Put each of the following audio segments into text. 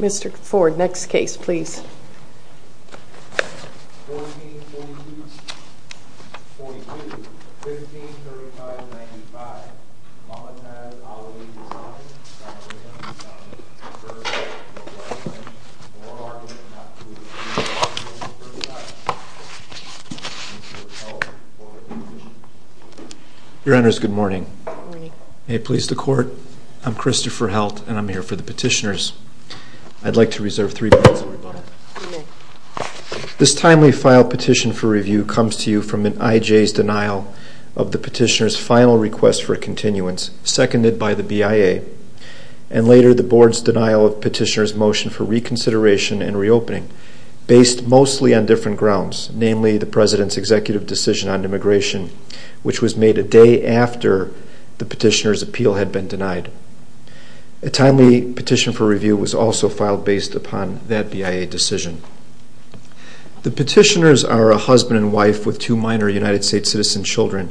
Mr. Ford, next case please. 1442-42, 1535-95, Mamataz Ali Hussaini v. Loretta Lynch Loretta Lynch v. Loretta Lynch Loretta Lynch v. Loretta Lynch Your Honours, good morning. May it please the Court, I'm Christopher Heldt and I'm here for the petitioners. I'd like to reserve three minutes. This timely file petition for review comes to you from an IJ's denial of the petitioner's final request for continuance, seconded by the BIA, and later the Board's denial of petitioner's motion for reconsideration and reopening, based mostly on different grounds, namely the President's executive decision on immigration, which was made a day after the petitioner's appeal had been denied. A timely petition for review was also filed based upon that BIA decision. The petitioners are a husband and wife with two minor United States citizen children.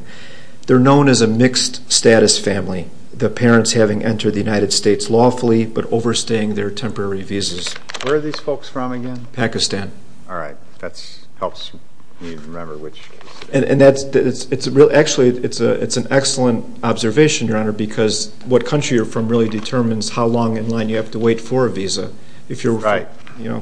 They're known as a mixed status family, the parents having entered the United States lawfully but overstaying their temporary visas. Where are these folks from again? Pakistan. All right, that helps me remember which case. Actually, it's an excellent observation, Your Honour, because what country you're from really determines how long in line you have to wait for a visa. Right.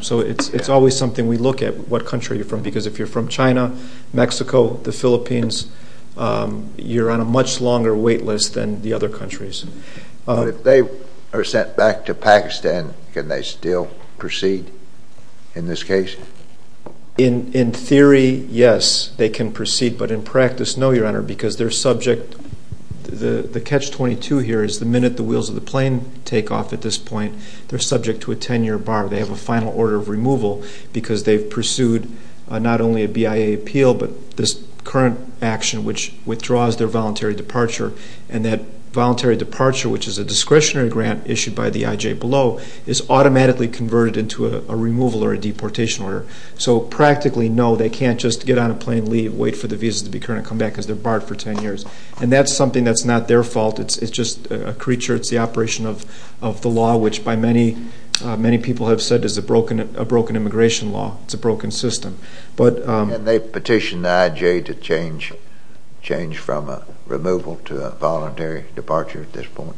So it's always something we look at, what country you're from, because if you're from China, Mexico, the Philippines, you're on a much longer wait list than the other countries. But if they are sent back to Pakistan, can they still proceed in this case? In theory, yes, they can proceed. But in practice, no, Your Honour, because they're subject. The catch-22 here is the minute the wheels of the plane take off at this point, they're subject to a 10-year bar. They have a final order of removal because they've pursued not only a BIA appeal but this current action which withdraws their voluntary departure, and that voluntary departure, which is a discretionary grant issued by the IJ below, is automatically converted into a removal or a deportation order. So practically, no, they can't just get on a plane, leave, wait for the visas to be current and come back because they're barred for 10 years. And that's something that's not their fault. It's just a creature. It's the operation of the law, which by many people have said is a broken immigration law. It's a broken system. Can they petition the IJ to change from a removal to a voluntary departure at this point?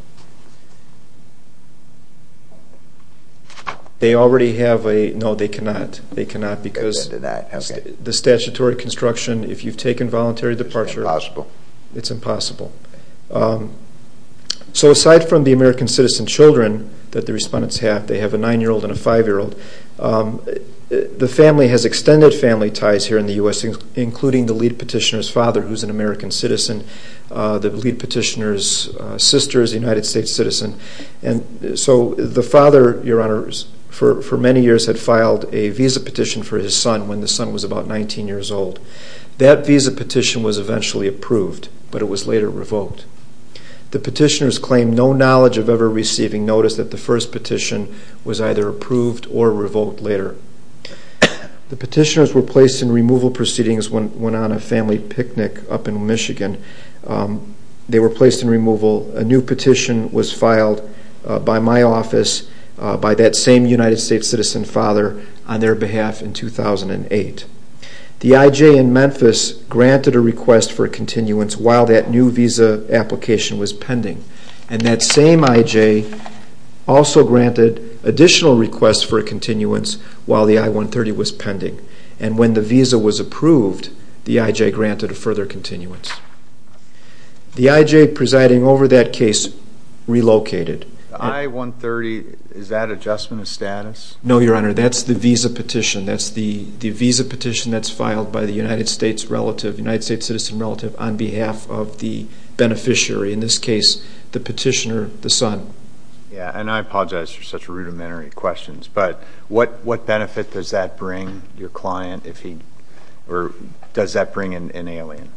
They already have a, no, they cannot. They cannot because the statutory construction, if you've taken voluntary departure, it's impossible. So aside from the American citizen children that the respondents have, they have a 9-year-old and a 5-year-old, the family has extended family ties here in the U.S., including the lead petitioner's father, who's an American citizen. The lead petitioner's sister is a United States citizen. And so the father, Your Honor, for many years had filed a visa petition for his son when the son was about 19 years old. That visa petition was eventually approved, but it was later revoked. The petitioners claimed no knowledge of ever receiving notice that the first petition was either approved or revoked later. The petitioners were placed in removal proceedings when on a family picnic up in Michigan. They were placed in removal. A new petition was filed by my office, by that same United States citizen father, on their behalf in 2008. The IJ in Memphis granted a request for a continuance while that new visa application was pending. And that same IJ also granted additional requests for a continuance while the I-130 was pending. And when the visa was approved, the IJ granted a further continuance. The IJ presiding over that case relocated. The I-130, is that adjustment of status? No, Your Honor, that's the visa petition. That's the visa petition that's filed by the United States relative, United States citizen relative, on behalf of the beneficiary. In this case, the petitioner, the son. Yeah, and I apologize for such rudimentary questions, but what benefit does that bring, your client, if he, or does that bring an alien?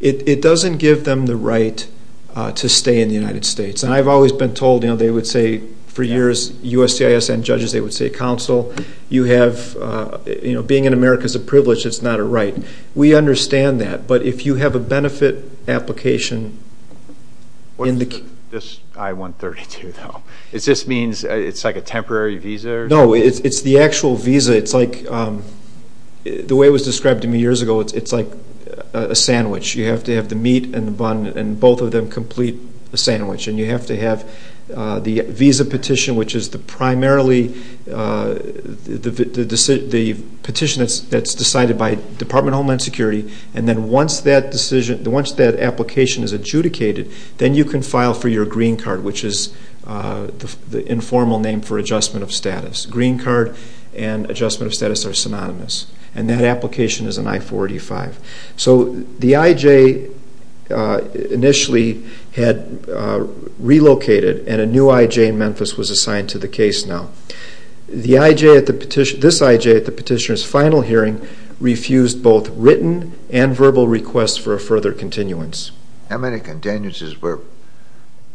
It doesn't give them the right to stay in the United States. And I've always been told, you know, they would say, for years, USCIS and judges, they would say, counsel, you have, you know, being in America is a privilege, it's not a right. We understand that. But if you have a benefit application. What is this I-132, though? Does this mean it's like a temporary visa? No, it's the actual visa. It's like, the way it was described to me years ago, it's like a sandwich. You have to have the meat and the bun, and both of them complete a sandwich. And you have to have the visa petition, which is primarily the petition that's decided by Department of Homeland Security. And then once that application is adjudicated, then you can file for your green card, which is the informal name for adjustment of status. Green card and adjustment of status are synonymous. And that application is an I-485. So the IJ initially had relocated, and a new IJ in Memphis was assigned to the case now. This IJ at the petitioner's final hearing refused both written and verbal requests for a further continuance. How many continuances were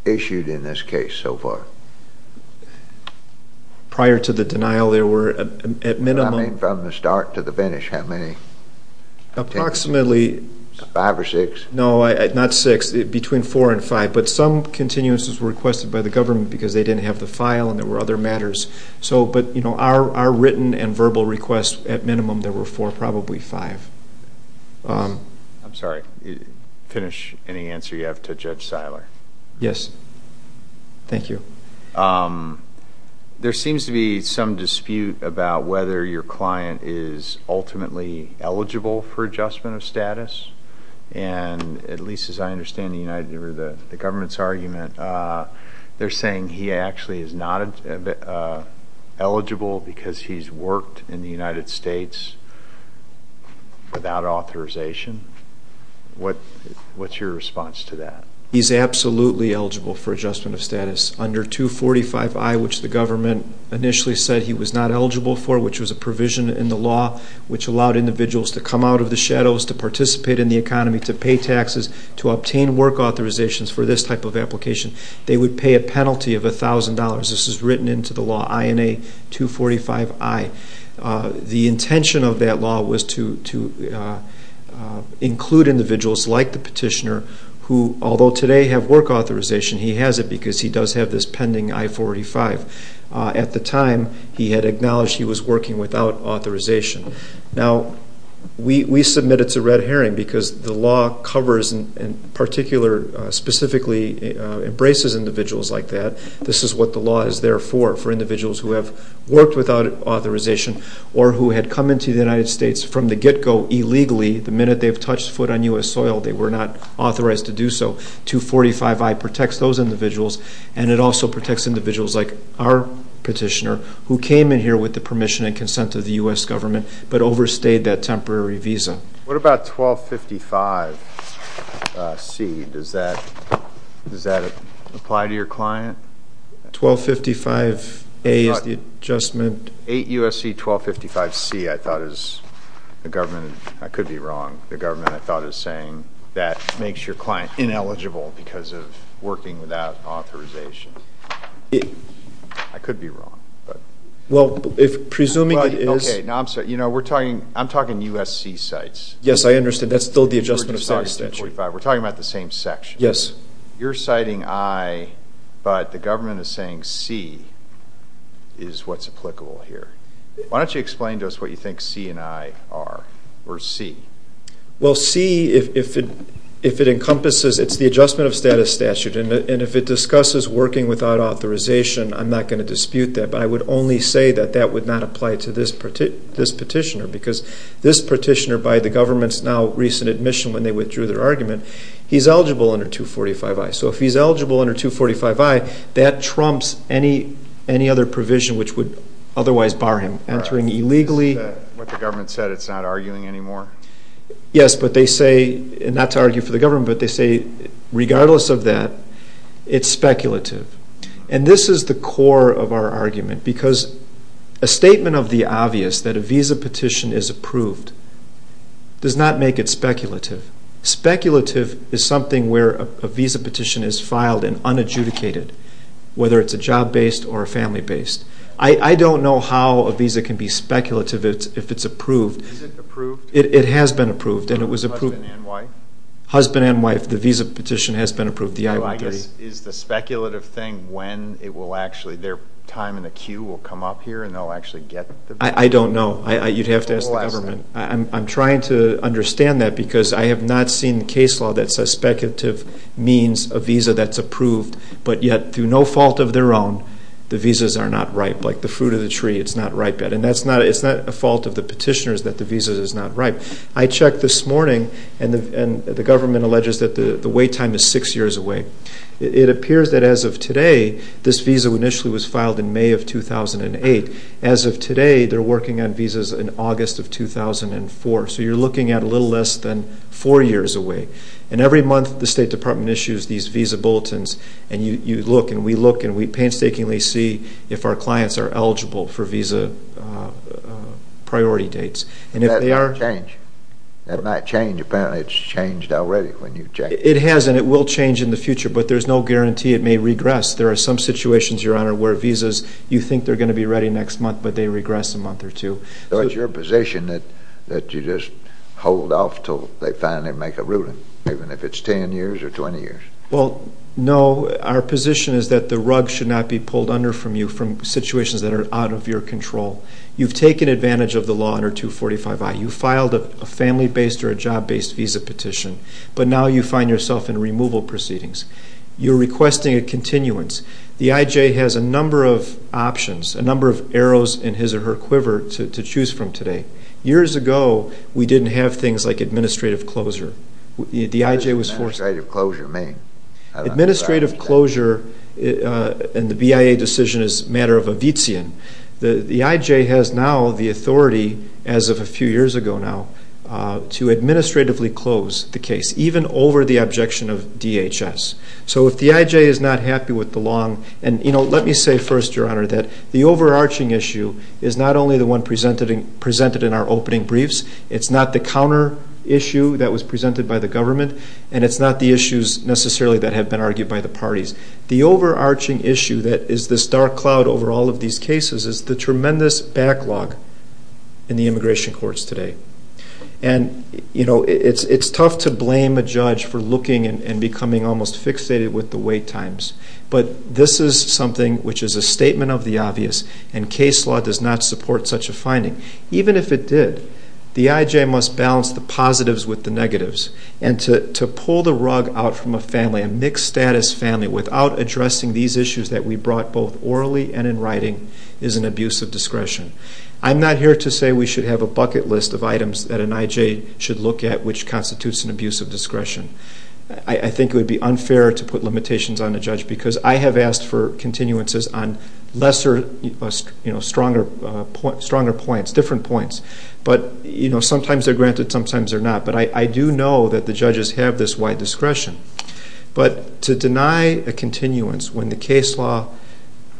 issued in this case so far? Prior to the denial, there were at minimum. I mean from the start to the finish, how many? Approximately. Five or six? No, not six, between four and five. But some continuances were requested by the government because they didn't have the file and there were other matters. But our written and verbal requests at minimum, there were four, probably five. I'm sorry, finish any answer you have to Judge Seiler. Yes, thank you. There seems to be some dispute about whether your client is ultimately eligible for adjustment of status. And at least as I understand the government's argument, they're saying he actually is not eligible because he's worked in the United States without authorization. What's your response to that? He's absolutely eligible for adjustment of status under 245I, which the government initially said he was not eligible for, which was a provision in the law which allowed individuals to come out of the shadows, to participate in the economy, to pay taxes, to obtain work authorizations for this type of application. They would pay a penalty of $1,000. This is written into the law, INA 245I. The intention of that law was to include individuals like the petitioner who, although today have work authorization, he has it because he does have this pending I-485. At the time, he had acknowledged he was working without authorization. Now, we submit it to Red Herring because the law covers, in particular, specifically embraces individuals like that. This is what the law is there for, for individuals who have worked without authorization or who had come into the United States from the get-go illegally. The minute they've touched foot on U.S. soil, they were not authorized to do so. 245I protects those individuals, and it also protects individuals like our petitioner, who came in here with the permission and consent of the U.S. government, but overstayed that temporary visa. What about 1255C? Does that apply to your client? 1255A is the adjustment. 8 U.S.C. 1255C, I thought, is the government. I could be wrong. The government, I thought, is saying that makes your client ineligible because of working without authorization. I could be wrong. Well, presuming it is. I'm talking U.S.C. sites. Yes, I understand. That's still the adjustment of status statute. We're talking about the same section. Yes. You're citing I, but the government is saying C is what's applicable here. Why don't you explain to us what you think C and I are, or C? Well, C, if it encompasses, it's the adjustment of status statute, and if it discusses working without authorization, I'm not going to dispute that, but I would only say that that would not apply to this petitioner because this petitioner, by the government's now recent admission, when they withdrew their argument, he's eligible under 245I. So if he's eligible under 245I, that trumps any other provision which would otherwise bar him entering illegally. Is that what the government said? It's not arguing anymore? Yes, but they say, not to argue for the government, but they say regardless of that, it's speculative. And this is the core of our argument, because a statement of the obvious, that a visa petition is approved, does not make it speculative. Speculative is something where a visa petition is filed and unadjudicated, whether it's a job-based or a family-based. I don't know how a visa can be speculative if it's approved. Is it approved? It has been approved, and it was approved. Husband and wife? Husband and wife, the visa petition has been approved, the I-130. Is the speculative thing when it will actually, their time in the queue will come up here and they'll actually get the visa? I don't know. You'd have to ask the government. I'm trying to understand that, because I have not seen the case law that says speculative means a visa that's approved, but yet through no fault of their own, the visas are not ripe. Like the fruit of the tree, it's not ripe yet. And it's not a fault of the petitioners that the visa is not ripe. I checked this morning, and the government alleges that the wait time is six years away. It appears that as of today, this visa initially was filed in May of 2008. As of today, they're working on visas in August of 2004. So you're looking at a little less than four years away. And every month the State Department issues these visa bulletins, and you look and we look, and we painstakingly see if our clients are eligible for visa priority dates. That might change. That might change. Apparently it's changed already when you check. It has, and it will change in the future, but there's no guarantee it may regress. There are some situations, Your Honor, where visas, you think they're going to be ready next month, but they regress a month or two. So it's your position that you just hold off until they finally make a ruling, even if it's 10 years or 20 years? Well, no. Our position is that the rug should not be pulled under from you from situations that are out of your control. You've taken advantage of the law under 245I. You filed a family-based or a job-based visa petition, but now you find yourself in removal proceedings. You're requesting a continuance. The I.J. has a number of options, a number of arrows in his or her quiver to choose from today. Years ago, we didn't have things like administrative closure. What does administrative closure mean? Administrative closure in the BIA decision is a matter of a vizian. The I.J. has now the authority, as of a few years ago now, to administratively close the case, even over the objection of DHS. So if the I.J. is not happy with the long, and let me say first, Your Honor, that the overarching issue is not only the one presented in our opening briefs, it's not the counter issue that was presented by the government, and it's not the issues necessarily that have been argued by the parties. The overarching issue that is this dark cloud over all of these cases is the tremendous backlog in the immigration courts today. It's tough to blame a judge for looking and becoming almost fixated with the wait times, but this is something which is a statement of the obvious, and case law does not support such a finding. Even if it did, the I.J. must balance the positives with the negatives, and to pull the rug out from a family, a mixed-status family, without addressing these issues that we brought both orally and in writing, is an abuse of discretion. I'm not here to say we should have a bucket list of items that an I.J. should look at which constitutes an abuse of discretion. I think it would be unfair to put limitations on the judge because I have asked for continuances on lesser, stronger points, different points, but sometimes they're granted, sometimes they're not. But I do know that the judges have this wide discretion. But to deny a continuance when the case law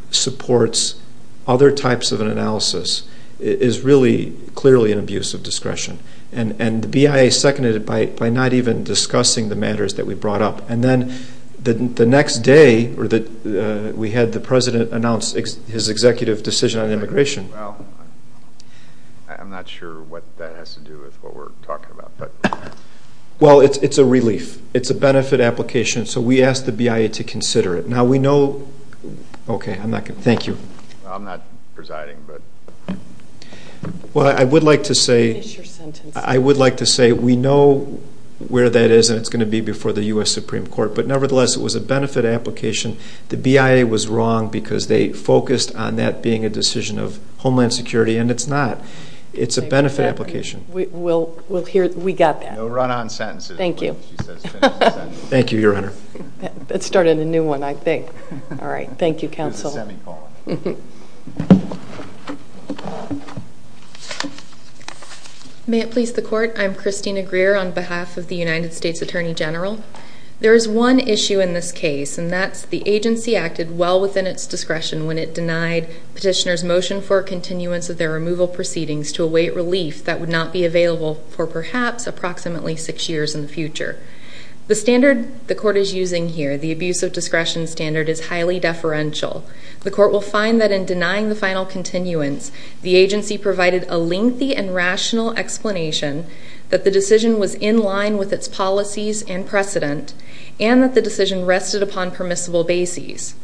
supports other types of an analysis is really clearly an abuse of discretion, and the BIA seconded it by not even discussing the matters that we brought up. And then the next day we had the president announce his executive decision on immigration. Well, I'm not sure what that has to do with what we're talking about. Well, it's a relief. It's a benefit application, so we asked the BIA to consider it. Now we know, okay, thank you. I'm not presiding, but... Well, I would like to say we know where that is, and it's going to be before the U.S. Supreme Court. But nevertheless, it was a benefit application. The BIA was wrong because they focused on that being a decision of Homeland Security, and it's not. It's a benefit application. We'll hear it. We got that. No run-on sentences. Thank you. Thank you, Your Honor. That started a new one, I think. All right, thank you, counsel. May it please the Court. I'm Christina Greer on behalf of the United States Attorney General. There is one issue in this case, and that's the agency acted well within its discretion when it denied petitioners' motion for a continuance of their removal proceedings to await relief that would not be available for perhaps approximately six years in the future. The standard the Court is using here, the abuse of discretion standard, is highly deferential. The Court will find that in denying the final continuance, the agency provided a lengthy and rational explanation that the decision was in line with its policies and precedent and that the decision rested upon permissible bases.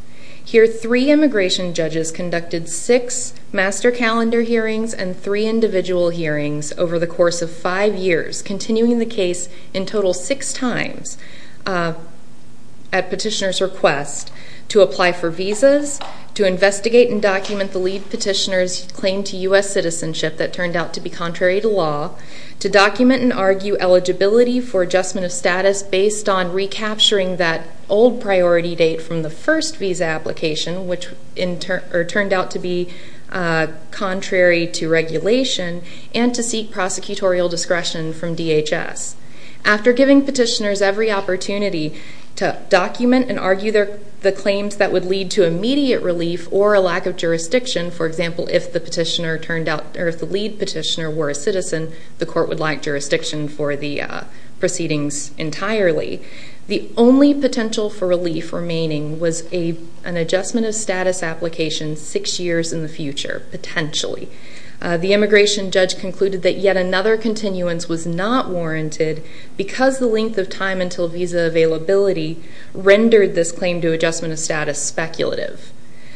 Here, three immigration judges conducted six master calendar hearings and three individual hearings over the course of five years, continuing the case in total six times at petitioner's request to apply for visas, to investigate and document the lead petitioner's claim to U.S. citizenship that turned out to be contrary to law, to document and argue eligibility for adjustment of status based on recapturing that old priority date from the first visa application, which turned out to be contrary to regulation, and to seek prosecutorial discretion from DHS. After giving petitioners every opportunity to document and argue the claims that would lead to immediate relief or a lack of jurisdiction, for example, if the lead petitioner were a citizen, the Court would lack jurisdiction for the proceedings entirely. The only potential for relief remaining was an adjustment of status application six years in the future, potentially. The immigration judge concluded that yet another continuance was not warranted because the length of time until visa availability rendered this claim to adjustment of status speculative.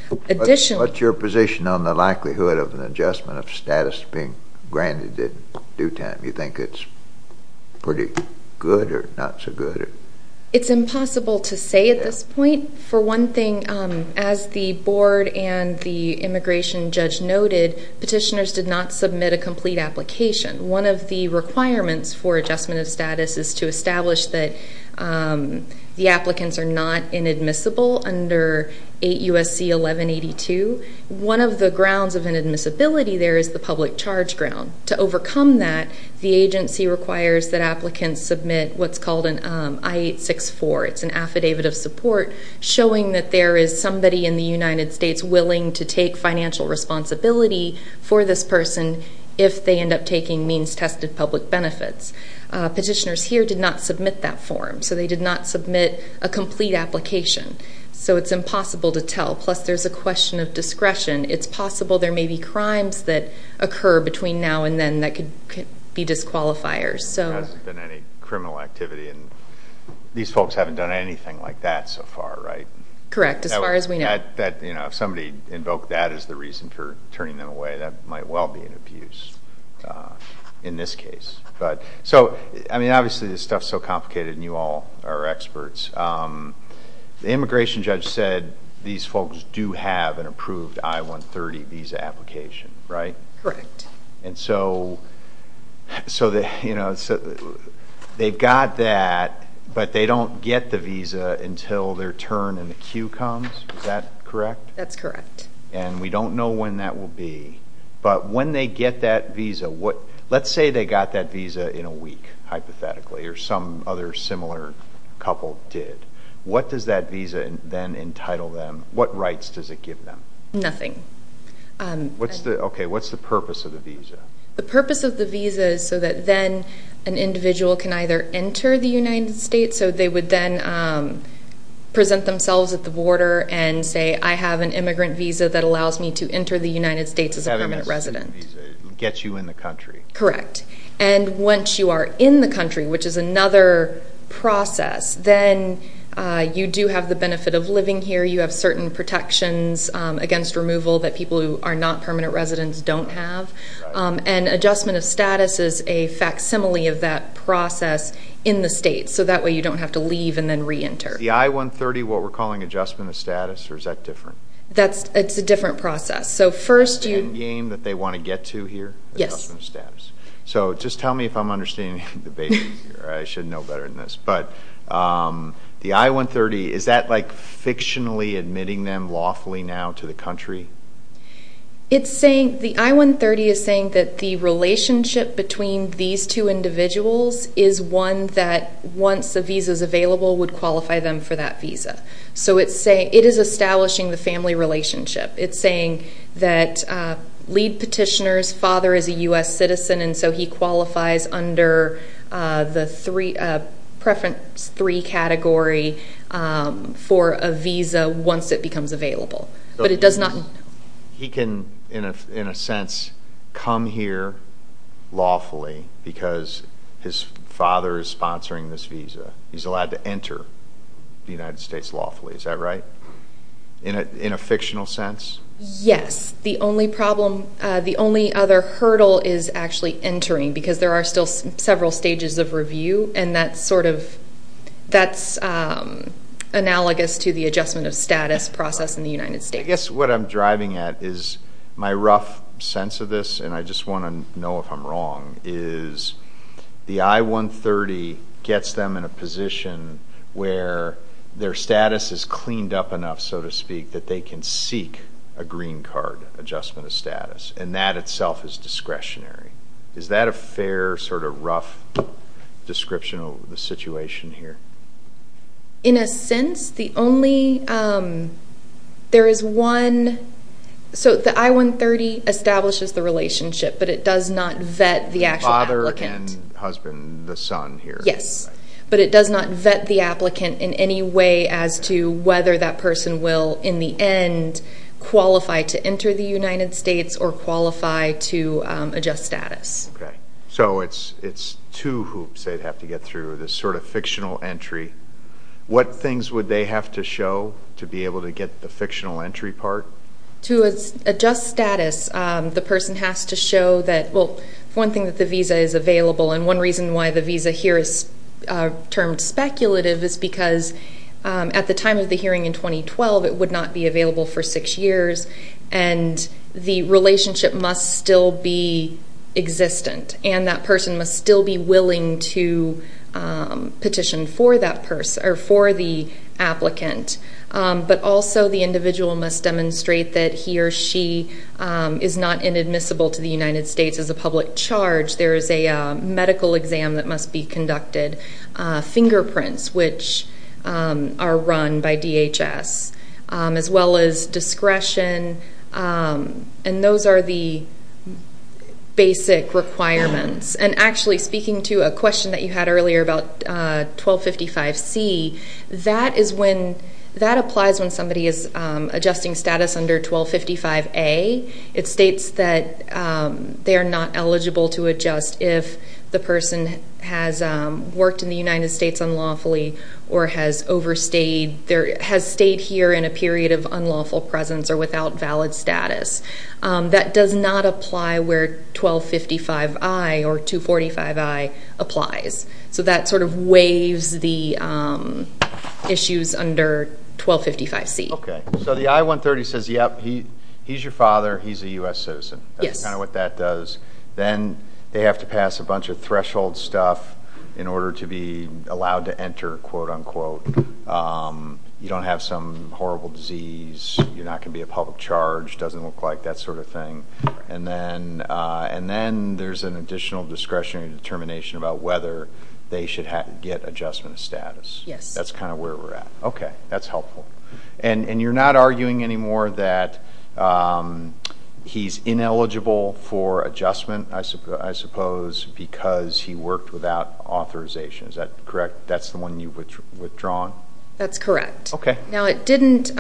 What's your position on the likelihood of an adjustment of status being granted in due time? Do you think it's pretty good or not so good? It's impossible to say at this point. For one thing, as the board and the immigration judge noted, petitioners did not submit a complete application. One of the requirements for adjustment of status is to establish that the applicants are not inadmissible under 8 U.S.C. 1182. One of the grounds of inadmissibility there is the public charge ground. To overcome that, the agency requires that applicants submit what's called an I-864. It's an affidavit of support showing that there is somebody in the United States willing to take financial responsibility for this person if they end up taking means-tested public benefits. Petitioners here did not submit that form, so they did not submit a complete application. It's impossible to tell. Plus, there's a question of discretion. It's possible there may be crimes that occur between now and then that could be disqualifiers. There hasn't been any criminal activity. These folks haven't done anything like that so far, right? Correct, as far as we know. If somebody invoked that as the reason for turning them away, that might well be an abuse in this case. Obviously, this stuff is so complicated, and you all are experts. The immigration judge said these folks do have an approved I-130 visa application, right? Correct. They've got that, but they don't get the visa until their turn in the queue comes. Is that correct? That's correct. And we don't know when that will be. But when they get that visa, let's say they got that visa in a week, hypothetically, or some other similar couple did, what does that visa then entitle them? What rights does it give them? Nothing. Okay, what's the purpose of the visa? The purpose of the visa is so that then an individual can either enter the United States, so they would then present themselves at the border and say, I have an immigrant visa that allows me to enter the United States as a permanent resident. It gets you in the country. Correct. And once you are in the country, which is another process, then you do have the benefit of living here. You have certain protections against removal that people who are not permanent residents don't have. And adjustment of status is a facsimile of that process in the states, so that way you don't have to leave and then reenter. Is the I-130 what we're calling adjustment of status, or is that different? It's a different process. The end game that they want to get to here? Yes. Adjustment of status. So just tell me if I'm understanding the debate here. I should know better than this. But the I-130, is that like fictionally admitting them lawfully now to the country? The I-130 is saying that the relationship between these two individuals is one that, once a visa is available, would qualify them for that visa. So it is establishing the family relationship. It's saying that lead petitioner's father is a U.S. citizen, and so he qualifies under the preference three category for a visa once it becomes available. He can, in a sense, come here lawfully because his father is sponsoring this visa. He's allowed to enter the United States lawfully. Is that right? In a fictional sense? Yes. The only other hurdle is actually entering because there are still several stages of review, and that's analogous to the adjustment of status process in the United States. I guess what I'm driving at is my rough sense of this, and I just want to know if I'm wrong, is the I-130 gets them in a position where their status is cleaned up enough, so to speak, that they can seek a green card adjustment of status, and that itself is discretionary. Is that a fair sort of rough description of the situation here? In a sense, the only—there is one—so the I-130 establishes the relationship, but it does not vet the actual applicant. The father and husband, the son here. Yes, but it does not vet the applicant in any way as to whether that person will, in the end, qualify to enter the United States or qualify to adjust status. Okay. So it's two hoops they'd have to get through, this sort of fictional entry. What things would they have to show to be able to get the fictional entry part? To adjust status, the person has to show that, well, one thing, that the visa is available, and one reason why the visa here is termed speculative is because at the time of the hearing in 2012, it would not be available for six years, and the relationship must still be existent, and that person must still be willing to petition for that person or for the applicant. But also the individual must demonstrate that he or she is not inadmissible to the United States as a public charge. There is a medical exam that must be conducted, fingerprints, which are run by DHS, as well as discretion, and those are the basic requirements. And actually, speaking to a question that you had earlier about 1255C, that applies when somebody is adjusting status under 1255A. It states that they are not eligible to adjust if the person has worked in the United States unlawfully or has stayed here in a period of unlawful presence or without valid status. That does not apply where 1255I or 245I applies. So that sort of waives the issues under 1255C. Okay, so the I-130 says, yep, he's your father, he's a U.S. citizen. Yes. That's kind of what that does. Then they have to pass a bunch of threshold stuff in order to be allowed to enter, quote, unquote. You don't have some horrible disease. You're not going to be a public charge. It doesn't look like that sort of thing. And then there's an additional discretionary determination about whether they should get adjustment of status. Yes. That's kind of where we're at. Okay, that's helpful. And you're not arguing anymore that he's ineligible for adjustment, I suppose, because he worked without authorization, is that correct? That's the one you've withdrawn? That's correct. Okay. Now it didn't,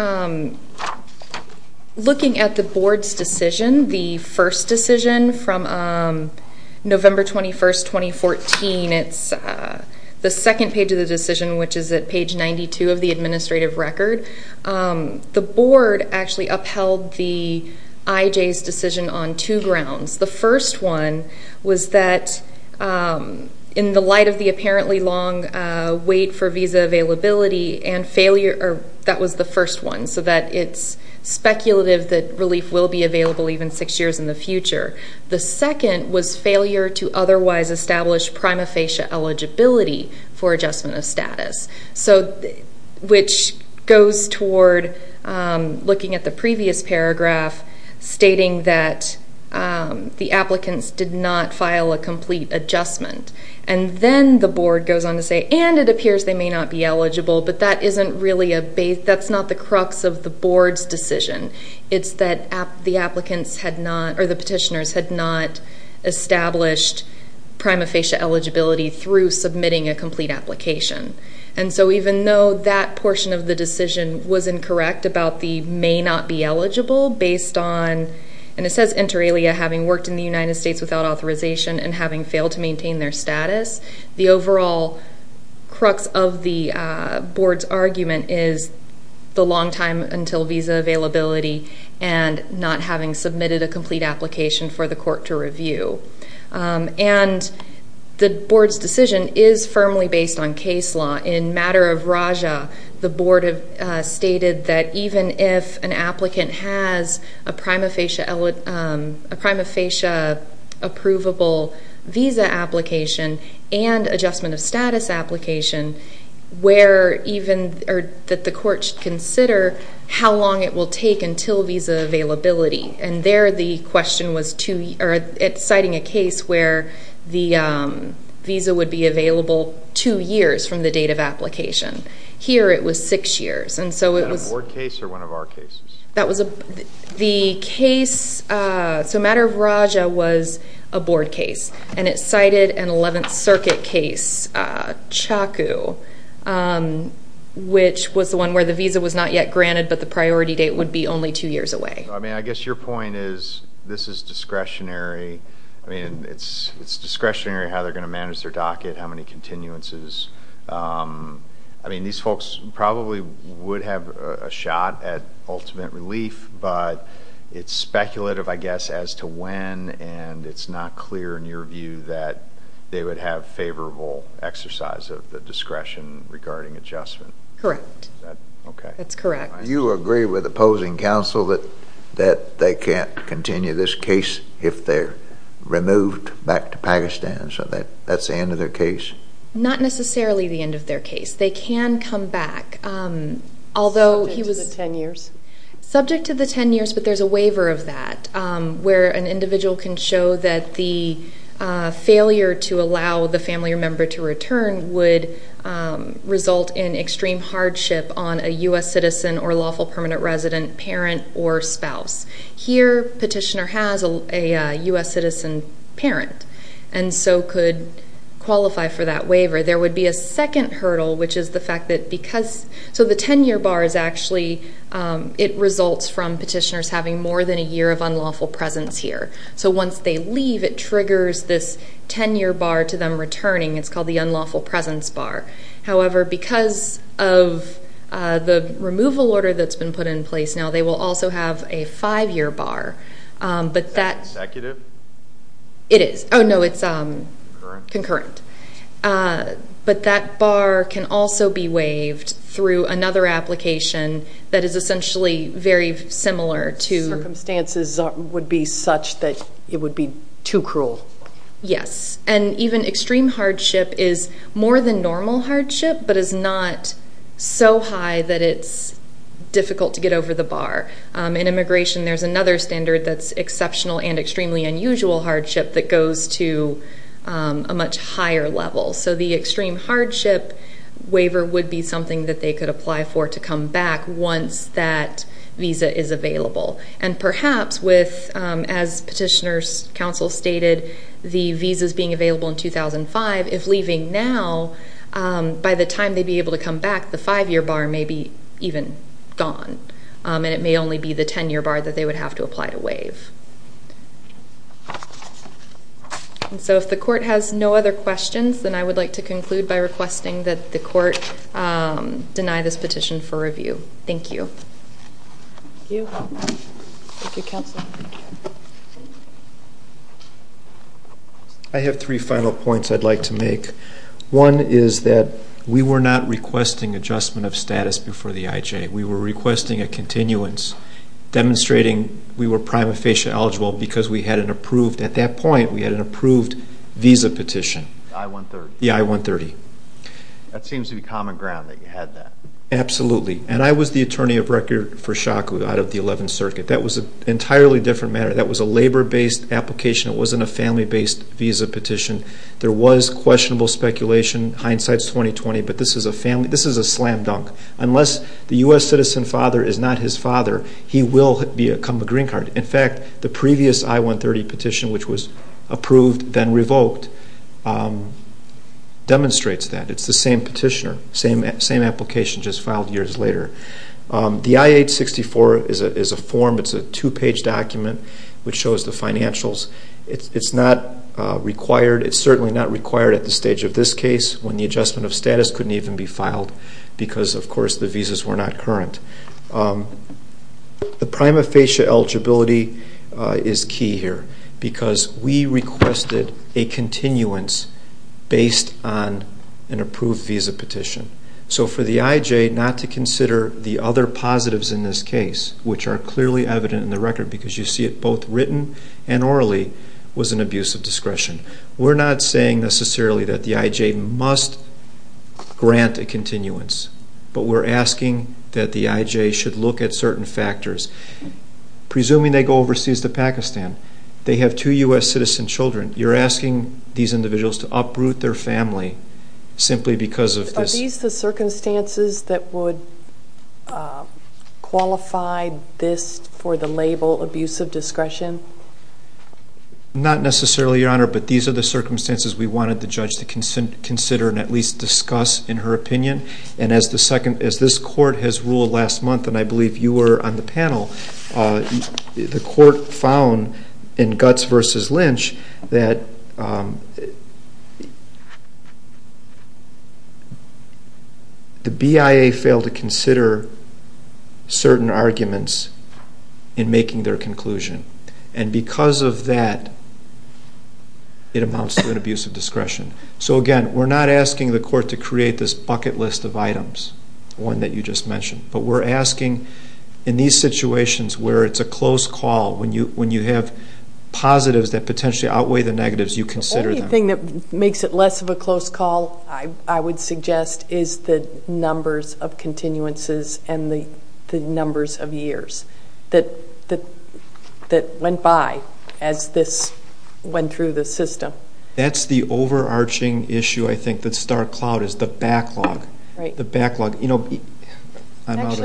looking at the board's decision, the first decision from November 21st, 2014, it's the second page of the decision, which is at page 92 of the administrative record. The board actually upheld the IJ's decision on two grounds. The first one was that in the light of the apparently long wait for visa availability and failure, that was the first one, so that it's speculative that relief will be available even six years in the future. The second was failure to otherwise establish prima facie eligibility for adjustment of status, which goes toward looking at the previous paragraph stating that the applicants did not file a complete adjustment. And then the board goes on to say, and it appears they may not be eligible, but that's not the crux of the board's decision. It's that the applicants had not, or the petitioners had not established prima facie eligibility through submitting a complete application. And so even though that portion of the decision was incorrect about the may not be eligible based on, and it says inter alia having worked in the United States without authorization and having failed to maintain their status, the overall crux of the board's argument is the long time until visa availability and not having submitted a complete application for the court to review. And the board's decision is firmly based on case law. In matter of Raja, the board stated that even if an applicant has a prima facie approvable visa application and adjustment of status application, that the court should consider how long it will take until visa availability. And there the question was citing a case where the visa would be available two years from the date of application. Here it was six years. Is that a board case or one of our cases? The case, so matter of Raja was a board case. And it cited an 11th Circuit case, CHACU, which was the one where the visa was not yet granted but the priority date would be only two years away. I mean, I guess your point is this is discretionary. I mean, it's discretionary how they're going to manage their docket, how many continuances. I mean, these folks probably would have a shot at ultimate relief, but it's speculative, I guess, as to when, and it's not clear in your view that they would have favorable exercise of the discretion regarding adjustment. Correct. Is that okay? That's correct. Do you agree with opposing counsel that they can't continue this case if they're removed back to Pakistan, so that's the end of their case? Not necessarily the end of their case. They can come back, although he was – Subject to the 10 years? Subject to the 10 years, but there's a waiver of that where an individual can show that the failure to allow the family or member to return would result in extreme hardship on a U.S. citizen or lawful permanent resident parent or spouse. Here, petitioner has a U.S. citizen parent and so could qualify for that waiver. There would be a second hurdle, which is the fact that because – so the 10-year bar is actually – it results from petitioners having more than a year of unlawful presence here. So once they leave, it triggers this 10-year bar to them returning. It's called the unlawful presence bar. However, because of the removal order that's been put in place now, they will also have a five-year bar. Is that consecutive? It is. Oh, no, it's concurrent. But that bar can also be waived through another application that is essentially very similar to – but it would be too cruel. Yes, and even extreme hardship is more than normal hardship but is not so high that it's difficult to get over the bar. In immigration, there's another standard that's exceptional and extremely unusual hardship that goes to a much higher level. So the extreme hardship waiver would be something that they could apply for to come back once that visa is available. And perhaps with, as petitioners' counsel stated, the visas being available in 2005, if leaving now, by the time they'd be able to come back, the five-year bar may be even gone, and it may only be the 10-year bar that they would have to apply to waive. And so if the court has no other questions, then I would like to conclude by requesting that the court deny this petition for review. Thank you. Thank you. Thank you, counsel. I have three final points I'd like to make. One is that we were not requesting adjustment of status before the IJ. We were requesting a continuance, demonstrating we were prima facie eligible because we had an approved – at that point, we had an approved visa petition. The I-130. The I-130. That seems to be common ground that you had that. Absolutely. And I was the attorney of record for shock out of the 11th Circuit. That was an entirely different matter. That was a labor-based application. It wasn't a family-based visa petition. There was questionable speculation. Hindsight's 20-20. But this is a family – this is a slam dunk. Unless the U.S. citizen father is not his father, he will become a green card. In fact, the previous I-130 petition, which was approved then revoked, demonstrates that. It's the same petitioner, same application just filed years later. The I-864 is a form. It's a two-page document which shows the financials. It's not required. It's certainly not required at the stage of this case when the adjustment of status couldn't even be filed because, of course, the visas were not current. The prima facie eligibility is key here because we requested a continuance based on an approved visa petition. So for the IJ not to consider the other positives in this case, which are clearly evident in the record because you see it both written and orally, was an abuse of discretion. We're not saying necessarily that the IJ must grant a continuance, but we're asking that the IJ should look at certain factors. Presuming they go overseas to Pakistan, they have two U.S. citizen children. You're asking these individuals to uproot their family simply because of this. Are these the circumstances that would qualify this for the label abuse of discretion? Not necessarily, Your Honor, but these are the circumstances we wanted the judge to consider and at least discuss in her opinion. And as this court has ruled last month, and I believe you were on the panel, the court found in Guts v. Lynch that the BIA failed to consider certain arguments in making their conclusion. And because of that, it amounts to an abuse of discretion. So again, we're not asking the court to create this bucket list of items, one that you just mentioned. But we're asking in these situations where it's a close call, when you have positives that potentially outweigh the negatives, you consider them. The only thing that makes it less of a close call, I would suggest, is the numbers of continuances and the numbers of years that went by as this went through the system. But that's the overarching issue, I think, that Star Cloud is, the backlog. Actually,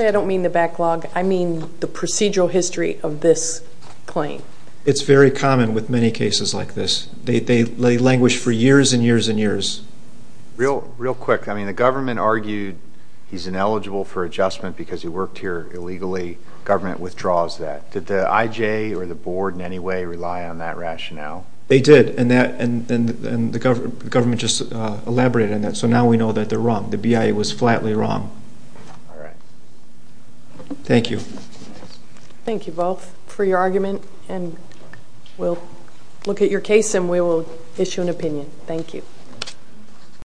I don't mean the backlog. I mean the procedural history of this claim. It's very common with many cases like this. They languish for years and years and years. Real quick, the government argued he's ineligible for adjustment because he worked here illegally. Government withdraws that. Did the IJ or the board in any way rely on that rationale? They did, and the government just elaborated on that. So now we know that they're wrong. The BIA was flatly wrong. All right. Thank you. Thank you both for your argument. And we'll look at your case and we will issue an opinion. Thank you.